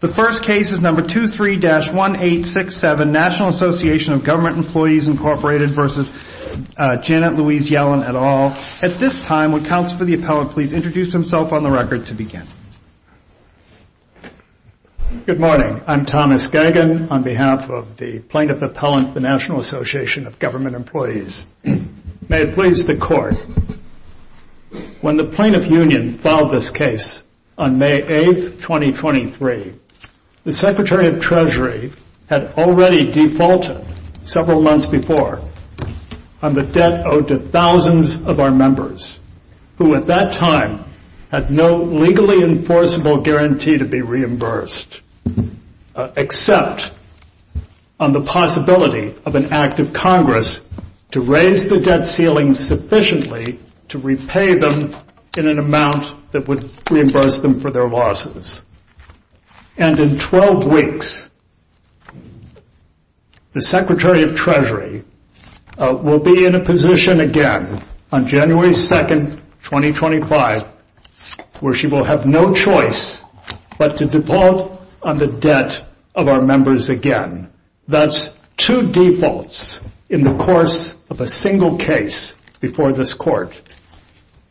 The first case is number 23-1867 National Association of Government Employees, Inc. v. Janet Louise Yellen, et al. At this time, would Counsel for the Appellant please introduce himself on the record to begin? Good morning. I'm Thomas Gagin on behalf of the Plaintiff Appellant for the National Association of Government Employees. May it please the Court. When the Plaintiff Union filed this case on May 8, 2023, the Secretary of Treasury had already defaulted several months before on the debt owed to thousands of our members who at that time had no legally enforceable guarantee to be reimbursed except on the possibility of an act of Congress to raise the debt ceiling sufficiently to repay them in an amount that would reimburse them for their losses. And in 12 weeks, the Secretary of Treasury will be in a position again on January 2, 2025 where she will have no choice but to default on the debt of our members again. That's two defaults in the course of a single case before this Court.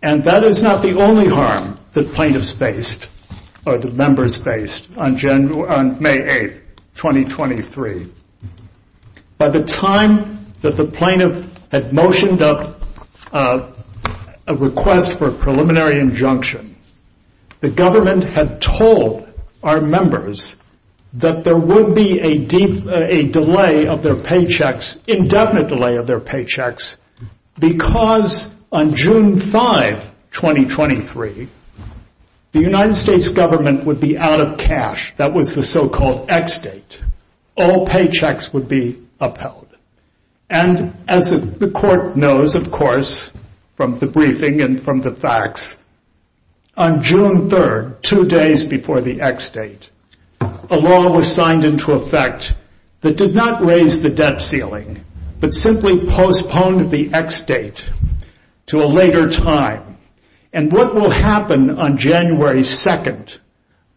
And that is not the only harm that plaintiffs faced or that members faced on May 8, 2023. By the time that the plaintiff had motioned a request for a preliminary injunction, the government had told our members that there would be a delay of their paychecks, indefinite delay of their paychecks, because on June 5, 2023, the United States government would be out of cash. That was the so-called ex-date. All paychecks would be upheld. And as the Court knows, of course, from the briefing and from the facts, on June 3, two days before the ex-date, a law was signed into effect that did not raise the debt ceiling but simply postponed the ex-date to a later time. And what will happen on January 2,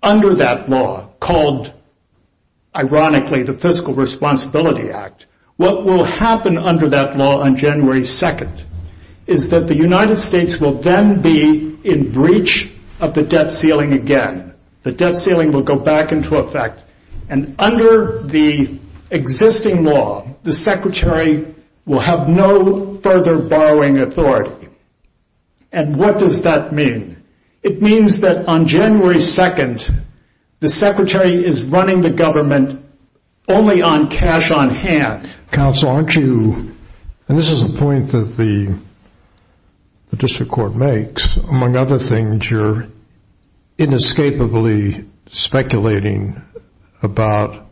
under that law called, ironically, the Fiscal Responsibility Act, what will happen under that law on January 2 is that the United States will then be in breach of the debt ceiling again. The debt ceiling will go back into effect. And under the existing law, the Secretary will have no further borrowing authority. And what does that mean? It means that on January 2, the Secretary is running the government only on cash on hand. Counsel, aren't you, and this is a point that the District Court makes, among other things, you're inescapably speculating about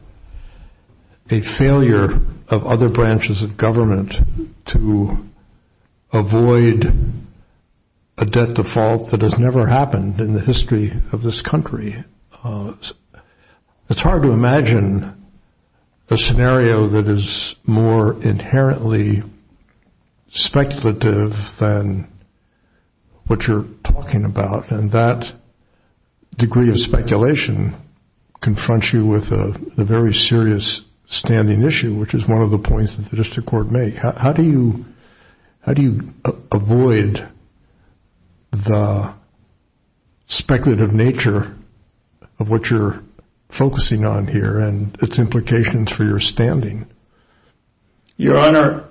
a failure of other branches of government to avoid a debt default that has never happened in the history of this country. It's hard to imagine a scenario that is more inherently speculative than what you're talking about. And that degree of speculation confronts you with a very serious standing issue, which is one of the points that the District Court makes. How do you avoid the speculative nature of what you're focusing on here and its implications for your standing? Your Honor,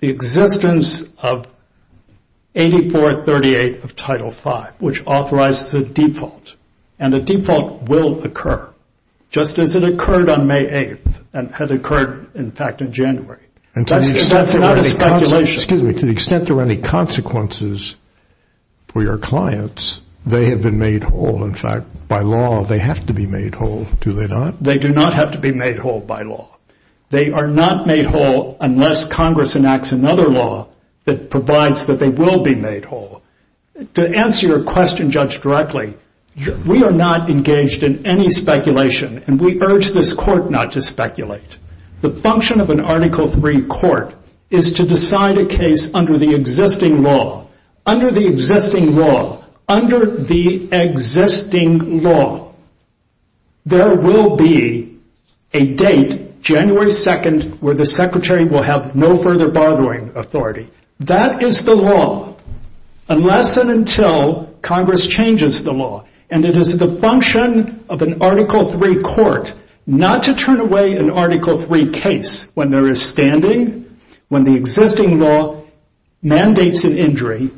the existence of 8438 of Title V, which authorizes a default, and a default will occur, just as it occurred on May 8 and had occurred, in fact, in January. That's not a speculation. Excuse me. To the extent there are any consequences for your clients, they have been made whole. In fact, by law, they have to be made whole, do they not? They do not have to be made whole by law. They are not made whole unless Congress enacts another law that provides that they will be made whole. To answer your question, Judge, directly, we are not engaged in any speculation, and we urge this Court not to speculate. The function of an Article III court is to decide a case under the existing law. Under the existing law, under the existing law, there will be a date, January 2, where the Secretary will have no further bargaining authority. That is the law, unless and until Congress changes the law. And it is the function of an Article III court not to turn away an Article III case when there is standing, when the existing law mandates an injury,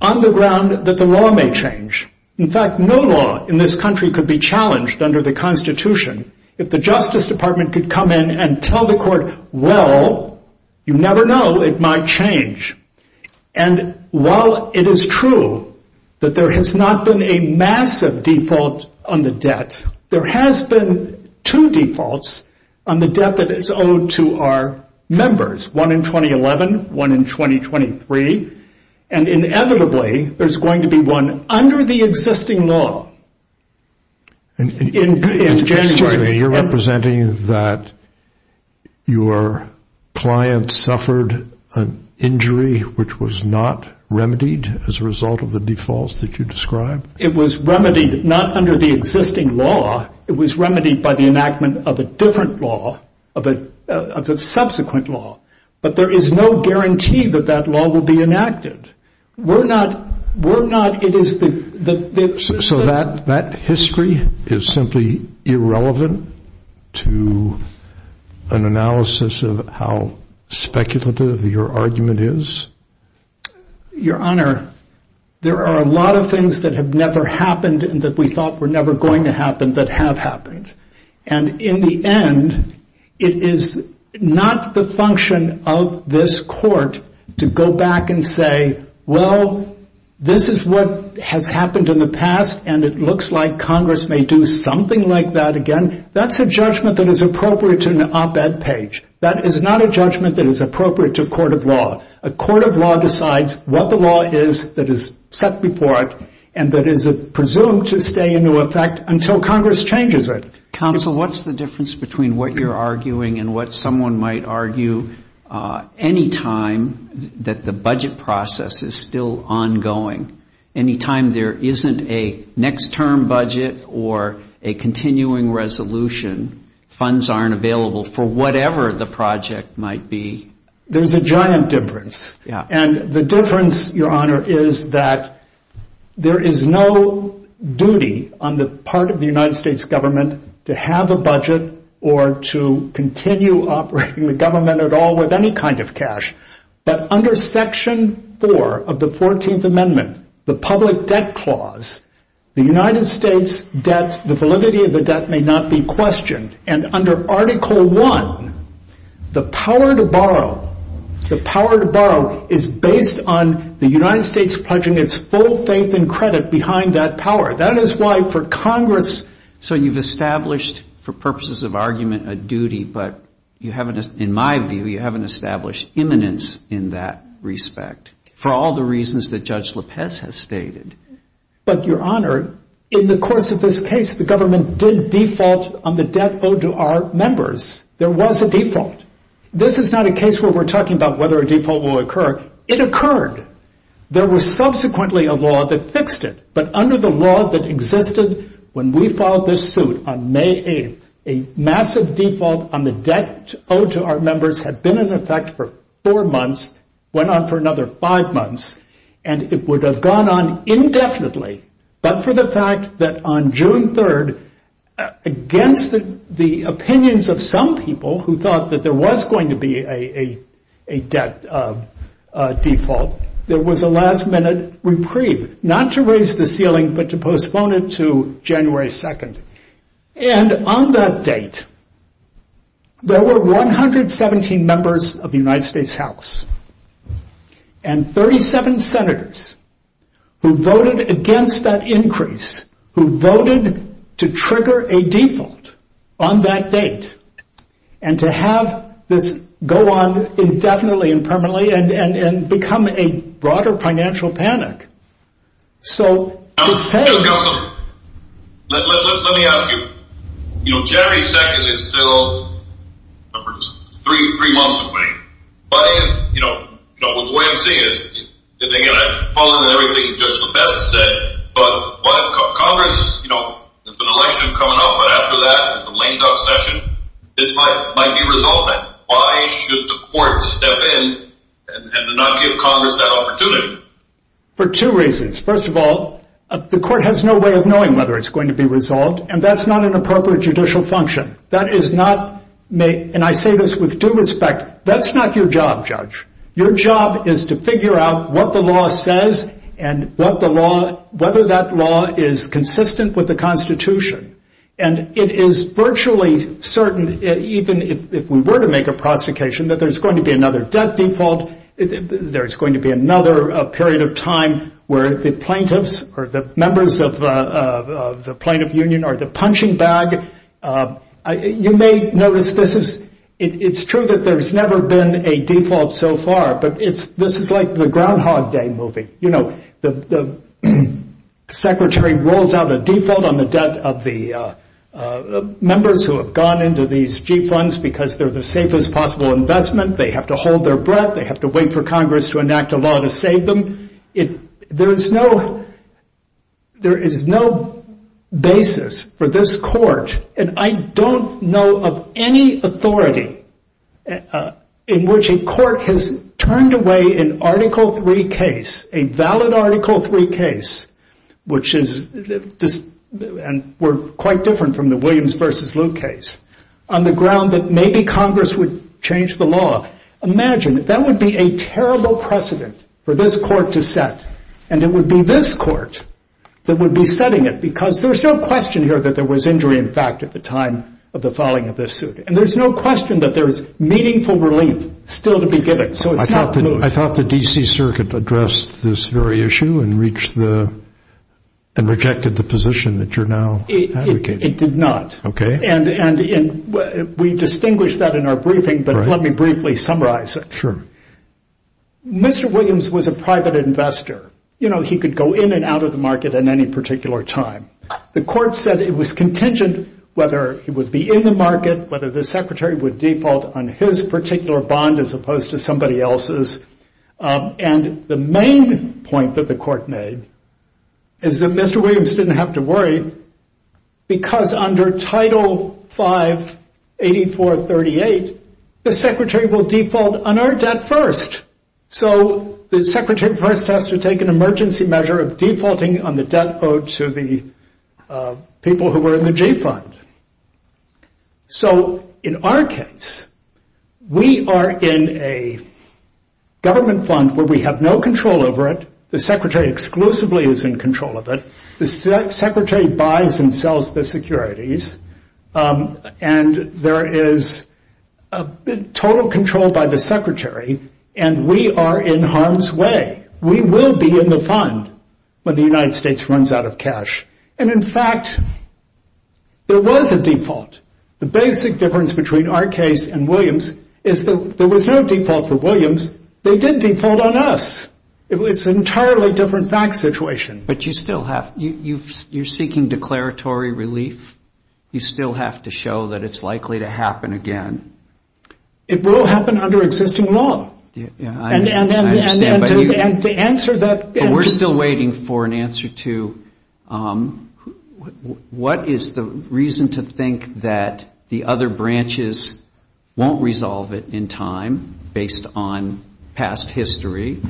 on the ground that the law may change. In fact, no law in this country could be challenged under the Constitution if the Justice Department could come in and tell the Court, well, you never know, it might change. And while it is true that there has not been a massive default on the debt, there has been two defaults on the debt that is owed to our members, one in 2011, one in 2023, and inevitably there is going to be one under the existing law in January. You are representing that your client suffered an injury which was not remedied as a result of the defaults that you described? It was remedied not under the existing law. It was remedied by the enactment of a different law, of a subsequent law. But there is no guarantee that that law will be enacted. We're not, it is the... So that history is simply irrelevant to an analysis of how speculative your argument is? Your Honor, there are a lot of things that have never happened and that we thought were never going to happen that have happened. And in the end, it is not the function of this Court to go back and say, well, this is what has happened in the past and it looks like Congress may do something like that again. That's a judgment that is appropriate to an op-ed page. That is not a judgment that is appropriate to a court of law. A court of law decides what the law is that is set before it and that is presumed to stay into effect until Congress changes it. Counsel, what's the difference between what you're arguing and what someone might argue any time that the budget process is still ongoing? Any time there isn't a next term budget or a continuing resolution, funds aren't available for whatever the project might be? There's a giant difference. And the difference, Your Honor, is that there is no duty on the part of the United States government to have a budget or to continue operating the government at all with any kind of cash. But under Section 4 of the 14th Amendment, the Public Debt Clause, the United States debt, the validity of the debt may not be questioned. And under Article 1, the power to borrow, the power to borrow is based on the United States pledging its full faith and credit behind that power. That is why for Congress. So you've established, for purposes of argument, a duty, but you haven't, in my view, you haven't established imminence in that respect for all the reasons that Judge LaPez has stated. But, Your Honor, in the course of this case, the government did default on the debt owed to our members. There was a default. This is not a case where we're talking about whether a default will occur. It occurred. There was subsequently a law that fixed it. But under the law that existed when we filed this suit on May 8th, a massive default on the debt owed to our members had been in effect for four months, went on for another five months, and it would have gone on indefinitely, but for the fact that on June 3rd, against the opinions of some people who thought that there was going to be a debt default, there was a last-minute reprieve, not to raise the ceiling, but to postpone it to January 2nd. And on that date, there were 117 members of the United States House and 37 senators who voted against that increase, who voted to trigger a default on that date and to have this go on indefinitely and permanently and become a broader financial panic. So to say— Counsel, let me ask you. January 2nd is still three months away. But the way I'm seeing it is, again, following everything Judge LeBest said, but Congress, there's an election coming up. But after that, the lame duck session, this might be resolved. But why should the court step in and not give Congress that opportunity? For two reasons. First of all, the court has no way of knowing whether it's going to be resolved, and that's not an appropriate judicial function. That is not—and I say this with due respect—that's not your job, Judge. Your job is to figure out what the law says and whether that law is consistent with the Constitution. And it is virtually certain, even if we were to make a prosecution, that there's going to be another debt default, there's going to be another period of time where the plaintiffs or the members of the plaintiff union are the punching bag. You may notice this is—it's true that there's never been a default so far, but this is like the Groundhog Day movie. You know, the secretary rolls out a default on the debt of the members who have gone into these G funds because they're the safest possible investment, they have to hold their breath, they have to wait for Congress to enact a law to save them. There is no basis for this court, and I don't know of any authority in which a court has turned away an Article III case, a valid Article III case, which is—and we're quite different from the Williams v. Luke case— on the ground that maybe Congress would change the law. Imagine, that would be a terrible precedent for this court to set, and it would be this court that would be setting it, because there's no question here that there was injury in fact at the time of the filing of this suit, and there's no question that there's meaningful relief still to be given. I thought the D.C. Circuit addressed this very issue and rejected the position that you're now advocating. It did not. Okay. And we distinguished that in our briefing, but let me briefly summarize it. Mr. Williams was a private investor. You know, he could go in and out of the market at any particular time. The court said it was contingent whether he would be in the market, whether the secretary would default on his particular bond as opposed to somebody else's. And the main point that the court made is that Mr. Williams didn't have to worry, because under Title V, 8438, the secretary will default on our debt first. So the secretary first has to take an emergency measure of defaulting on the debt owed to the people who were in the G Fund. So in our case, we are in a government fund where we have no control over it. The secretary exclusively is in control of it. The secretary buys and sells the securities, and there is total control by the secretary, and we are in harm's way. We will be in the fund when the United States runs out of cash. And, in fact, there was a default. The basic difference between our case and Williams is that there was no default for Williams. They did default on us. It was an entirely different facts situation. But you still have to you're seeking declaratory relief. You still have to show that it's likely to happen again. It will happen under existing law. Yeah, I understand. But we're still waiting for an answer to what is the reason to think that the other branches won't resolve it in time, based on past history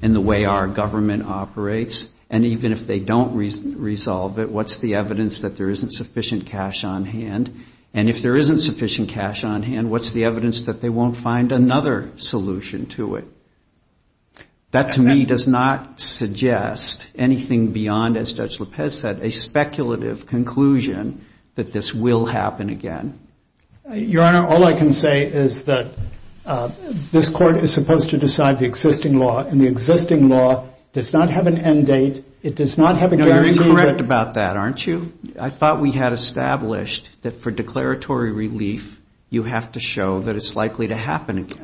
and the way our government operates? And even if they don't resolve it, what's the evidence that there isn't sufficient cash on hand? And if there isn't sufficient cash on hand, what's the evidence that they won't find another solution to it? That, to me, does not suggest anything beyond, as Judge Lopez said, a speculative conclusion that this will happen again. Your Honor, all I can say is that this Court is supposed to decide the existing law, and the existing law does not have an end date. It does not have a guarantee. No, you're incorrect about that, aren't you? I thought we had established that for declaratory relief, you have to show that it's likely to happen again.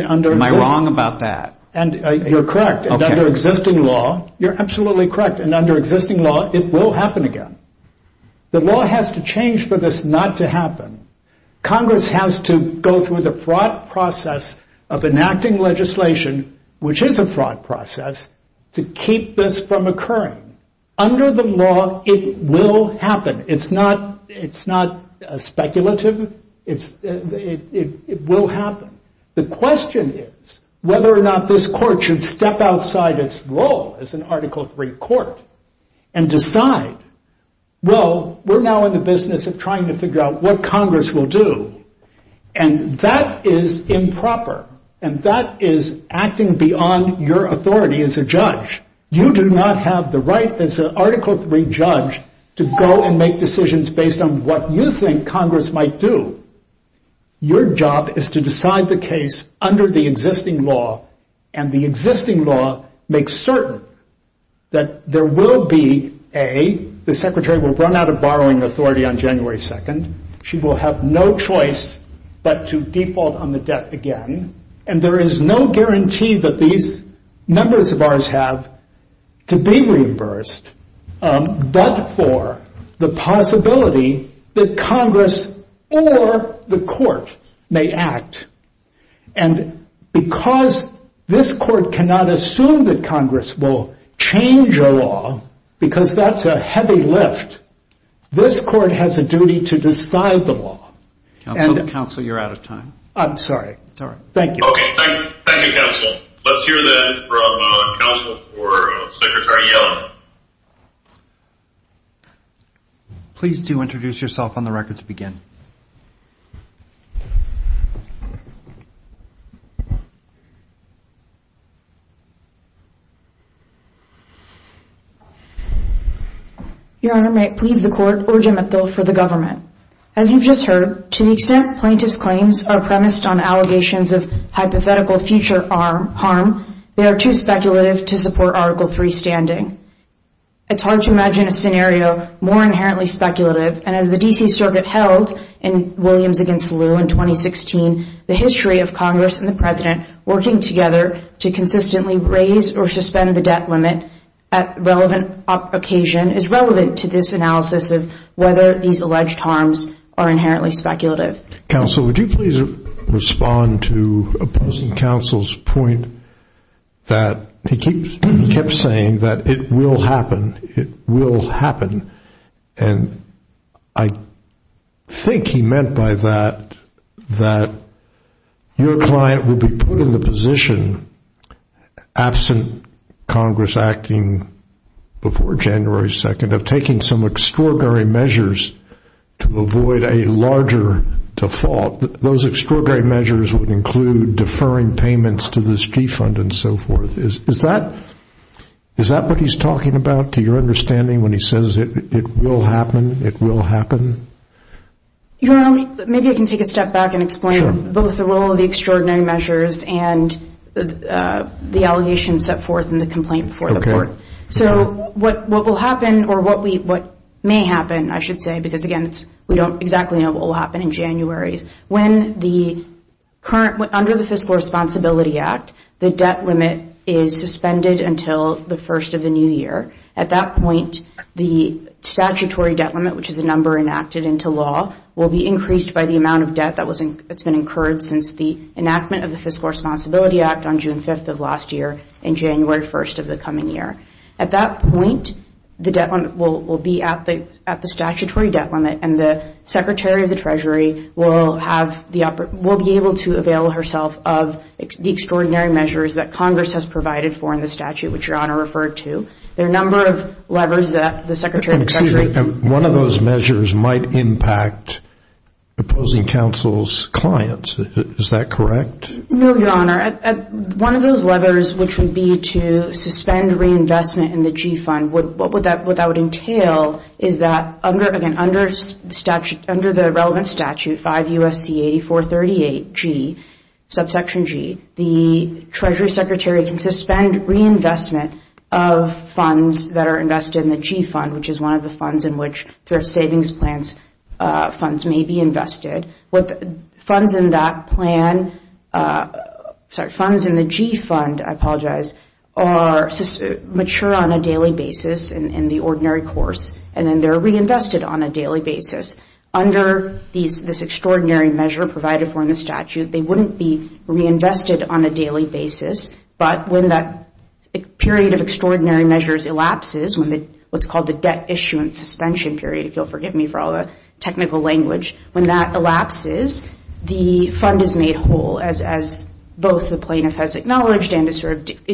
Am I wrong about that? You're correct. Under existing law, you're absolutely correct. And under existing law, it will happen again. The law has to change for this not to happen. Congress has to go through the fraught process of enacting legislation, which is a fraught process, to keep this from occurring. Under the law, it will happen. It's not speculative. It will happen. The question is whether or not this Court should step outside its role as an Article III Court and decide, well, we're now in the business of trying to figure out what Congress will do. And that is improper. And that is acting beyond your authority as a judge. You do not have the right as an Article III judge to go and make decisions based on what you think Congress might do. Your job is to decide the case under the existing law, and the existing law makes certain that there will be, A, the Secretary will run out of borrowing authority on January 2nd. She will have no choice but to default on the debt again. And there is no guarantee that these members of ours have to be reimbursed, but for the possibility that Congress or the Court may act. And because this Court cannot assume that Congress will change a law, because that's a heavy lift, this Court has a duty to decide the law. Counsel, Counsel, you're out of time. I'm sorry. It's all right. Thank you. Thank you, Counsel. Let's hear that from Counsel for Secretary Yellen. Please do introduce yourself on the record to begin. Your Honor, may it please the Court, Urgent Mental for the Government. As you've just heard, to the extent plaintiff's claims are premised on allegations of hypothetical future harm, they are too speculative to support Article III standing. It's hard to imagine a scenario more inherently speculative, and as the D.C. Circuit held in Williams v. Liu in 2016, the history of Congress and the President working together to consistently raise or suspend the debt limit at relevant occasion is relevant to this analysis of whether these alleged harms are inherently speculative. Counsel, would you please respond to opposing Counsel's point that he kept saying that it will happen, it will happen, and I think he meant by that that your client will be put in the position, absent Congress acting before January 2nd, of taking some extraordinary measures to avoid a larger default. Those extraordinary measures would include deferring payments to the street fund and so forth. Is that what he's talking about, to your understanding, when he says it will happen, it will happen? Your Honor, maybe I can take a step back and explain both the role of the extraordinary measures and the allegations set forth in the complaint before the Court. So what will happen, or what may happen, I should say, because, again, we don't exactly know what will happen in January, under the Fiscal Responsibility Act, the debt limit is suspended until the first of the new year. At that point, the statutory debt limit, which is a number enacted into law, will be increased by the amount of debt that's been incurred since the enactment of the Fiscal Responsibility Act on June 5th of last year and January 1st of the coming year. At that point, the debt limit will be at the statutory debt limit, and the Secretary of the Treasury will be able to avail herself of the extraordinary measures that Congress has provided for in the statute, which Your Honor referred to. There are a number of levers that the Secretary of the Treasury Excuse me. One of those measures might impact opposing counsel's clients. Is that correct? No, Your Honor. One of those levers, which would be to suspend reinvestment in the G Fund, what that would entail is that, again, under the relevant statute, 5 U.S.C. 8438 G, subsection G, the Treasury Secretary can suspend reinvestment of funds that are invested in the G Fund, which is one of the funds in which thrift savings funds may be invested. Funds in that plan, sorry, funds in the G Fund, I apologize, are mature on a daily basis in the ordinary course, and then they're reinvested on a daily basis. Under this extraordinary measure provided for in the statute, they wouldn't be reinvested on a daily basis, but when that period of extraordinary measures elapses, what's called the debt issuance suspension period, if you'll forgive me for all the technical language, when that elapses, the fund is made whole, as both the plaintiff has acknowledged and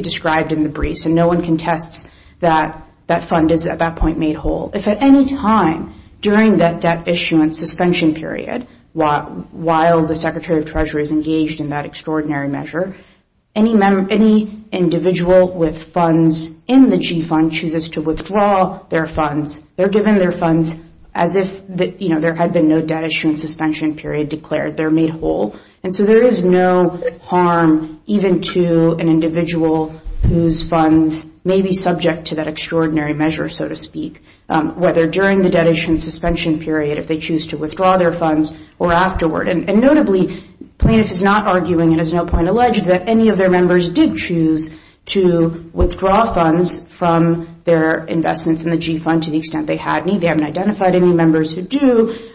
described in the brief. So no one contests that that fund is at that point made whole. If at any time during that debt issuance suspension period, while the Secretary of the Treasury is engaged in that extraordinary measure, any individual with funds in the G Fund chooses to withdraw their funds, they're given their funds as if there had been no debt issuance suspension period declared. They're made whole. And so there is no harm even to an individual whose funds may be subject to that extraordinary measure, so to speak, whether during the debt issuance suspension period, if they choose to withdraw their funds, or afterward. And notably, plaintiff is not arguing and has no point alleged that any of their members did choose to withdraw funds from their investments in the G Fund to the extent they had any. They haven't identified any members who do,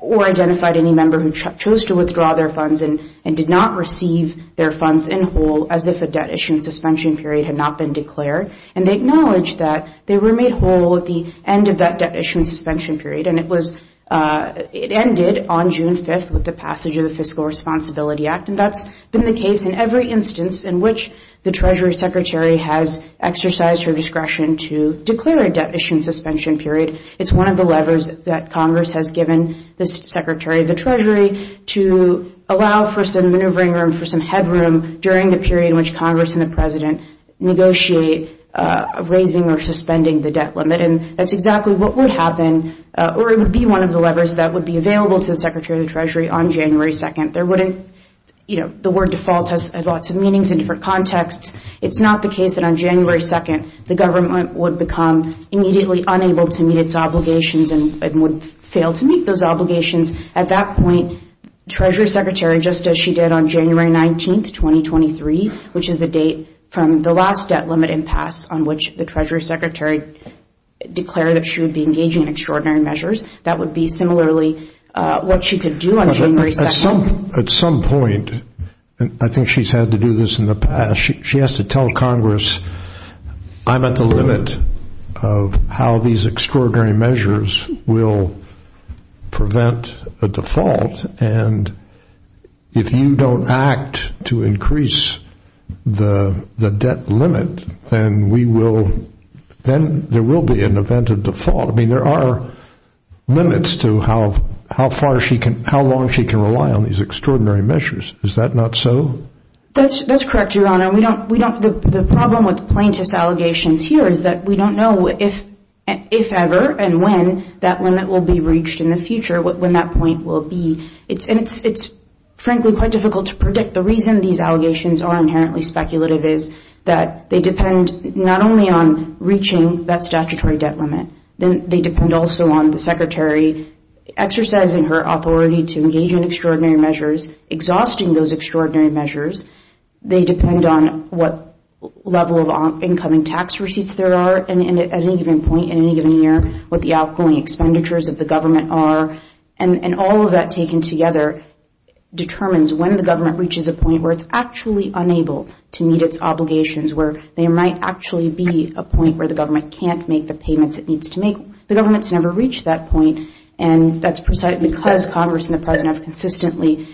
or identified any member who chose to withdraw their funds and did not receive their funds in whole as if a debt issuance suspension period had not been declared. And they acknowledge that they were made whole at the end of that debt issuance suspension period, and it ended on June 5th with the passage of the Fiscal Responsibility Act. And that's been the case in every instance in which the Treasury Secretary has exercised her discretion to declare a debt issuance suspension period. It's one of the levers that Congress has given the Secretary of the Treasury to allow for some maneuvering room, for some headroom during the period in which Congress and the President negotiate raising or suspending the debt limit. And that's exactly what would happen, or it would be one of the levers that would be available to the Secretary of the Treasury on January 2nd. There wouldn't, you know, the word default has lots of meanings in different contexts. It's not the case that on January 2nd the government would become immediately unable to meet its obligations and would fail to meet those obligations. At that point, Treasury Secretary, just as she did on January 19th, 2023, which is the date from the last debt limit impasse on which the Treasury Secretary declared that she would be engaging in extraordinary measures, that would be similarly what she could do on January 2nd. At some point, and I think she's had to do this in the past, she has to tell Congress, I'm at the limit of how these extraordinary measures will prevent a default. And if you don't act to increase the debt limit, then we will, then there will be an event of default. I mean, there are limits to how far she can, how long she can rely on these extraordinary measures. Is that not so? That's correct, Your Honor. We don't, we don't, the problem with plaintiff's allegations here is that we don't know if ever and when that limit will be reached in the future, when that point will be. And it's frankly quite difficult to predict. The reason these allegations are inherently speculative is that they depend not only on reaching that statutory debt limit, they depend also on the Secretary exercising her authority to engage in extraordinary measures, exhausting those extraordinary measures. They depend on what level of incoming tax receipts there are at any given point in any given year, what the outgoing expenditures of the government are. And all of that taken together determines when the government reaches a point where it's actually unable to meet its obligations, where there might actually be a point where the government can't make the payments it needs to make. The government's never reached that point. And that's precisely because Congress and the President have consistently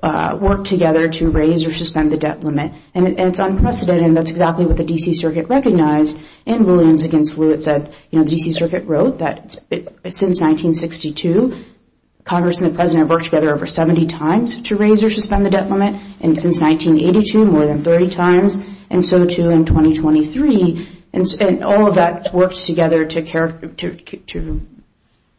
worked together to raise or suspend the debt limit. And it's unprecedented, and that's exactly what the D.C. Circuit recognized. And Williams against Lewitt said, you know, the D.C. Circuit wrote that since 1962, Congress and the President have worked together over 70 times to raise or suspend the debt limit, and since 1982, more than 30 times, and so too in 2023. And all of that works together to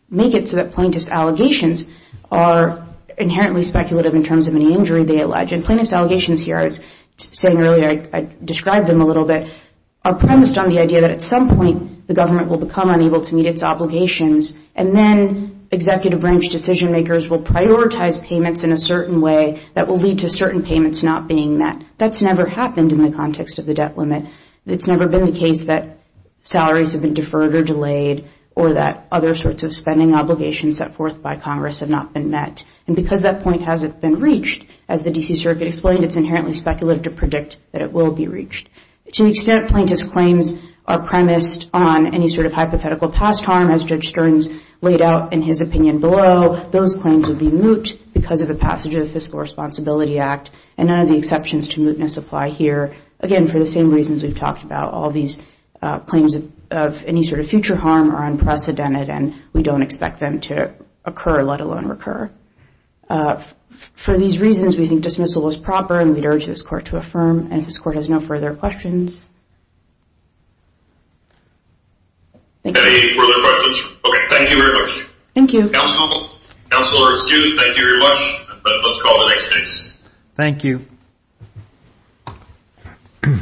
make it so that plaintiff's allegations are inherently speculative in terms of any injury they allege. And plaintiff's allegations here, as I was saying earlier, I described them a little bit, are premised on the idea that at some point the government will become unable to meet its obligations, and then executive branch decision-makers will prioritize payments in a certain way that will lead to certain payments not being met. That's never happened in the context of the debt limit. It's never been the case that salaries have been deferred or delayed or that other sorts of spending obligations set forth by Congress have not been met. And because that point hasn't been reached, as the D.C. Circuit explained, it's inherently speculative to predict that it will be reached. To the extent plaintiff's claims are premised on any sort of hypothetical past harm, as Judge Stearns laid out in his opinion below, those claims would be moot because of the passage of the Fiscal Responsibility Act, and none of the exceptions to mootness apply here. Again, for the same reasons we've talked about, all these claims of any sort of future harm are unprecedented, and we don't expect them to occur, let alone recur. For these reasons, we think dismissal is proper, and we'd urge this Court to affirm. And this Court has no further questions. Any further questions? Okay, thank you very much. Thank you. Counselor, excuse me, thank you very much. Let's call the next case. Thank you.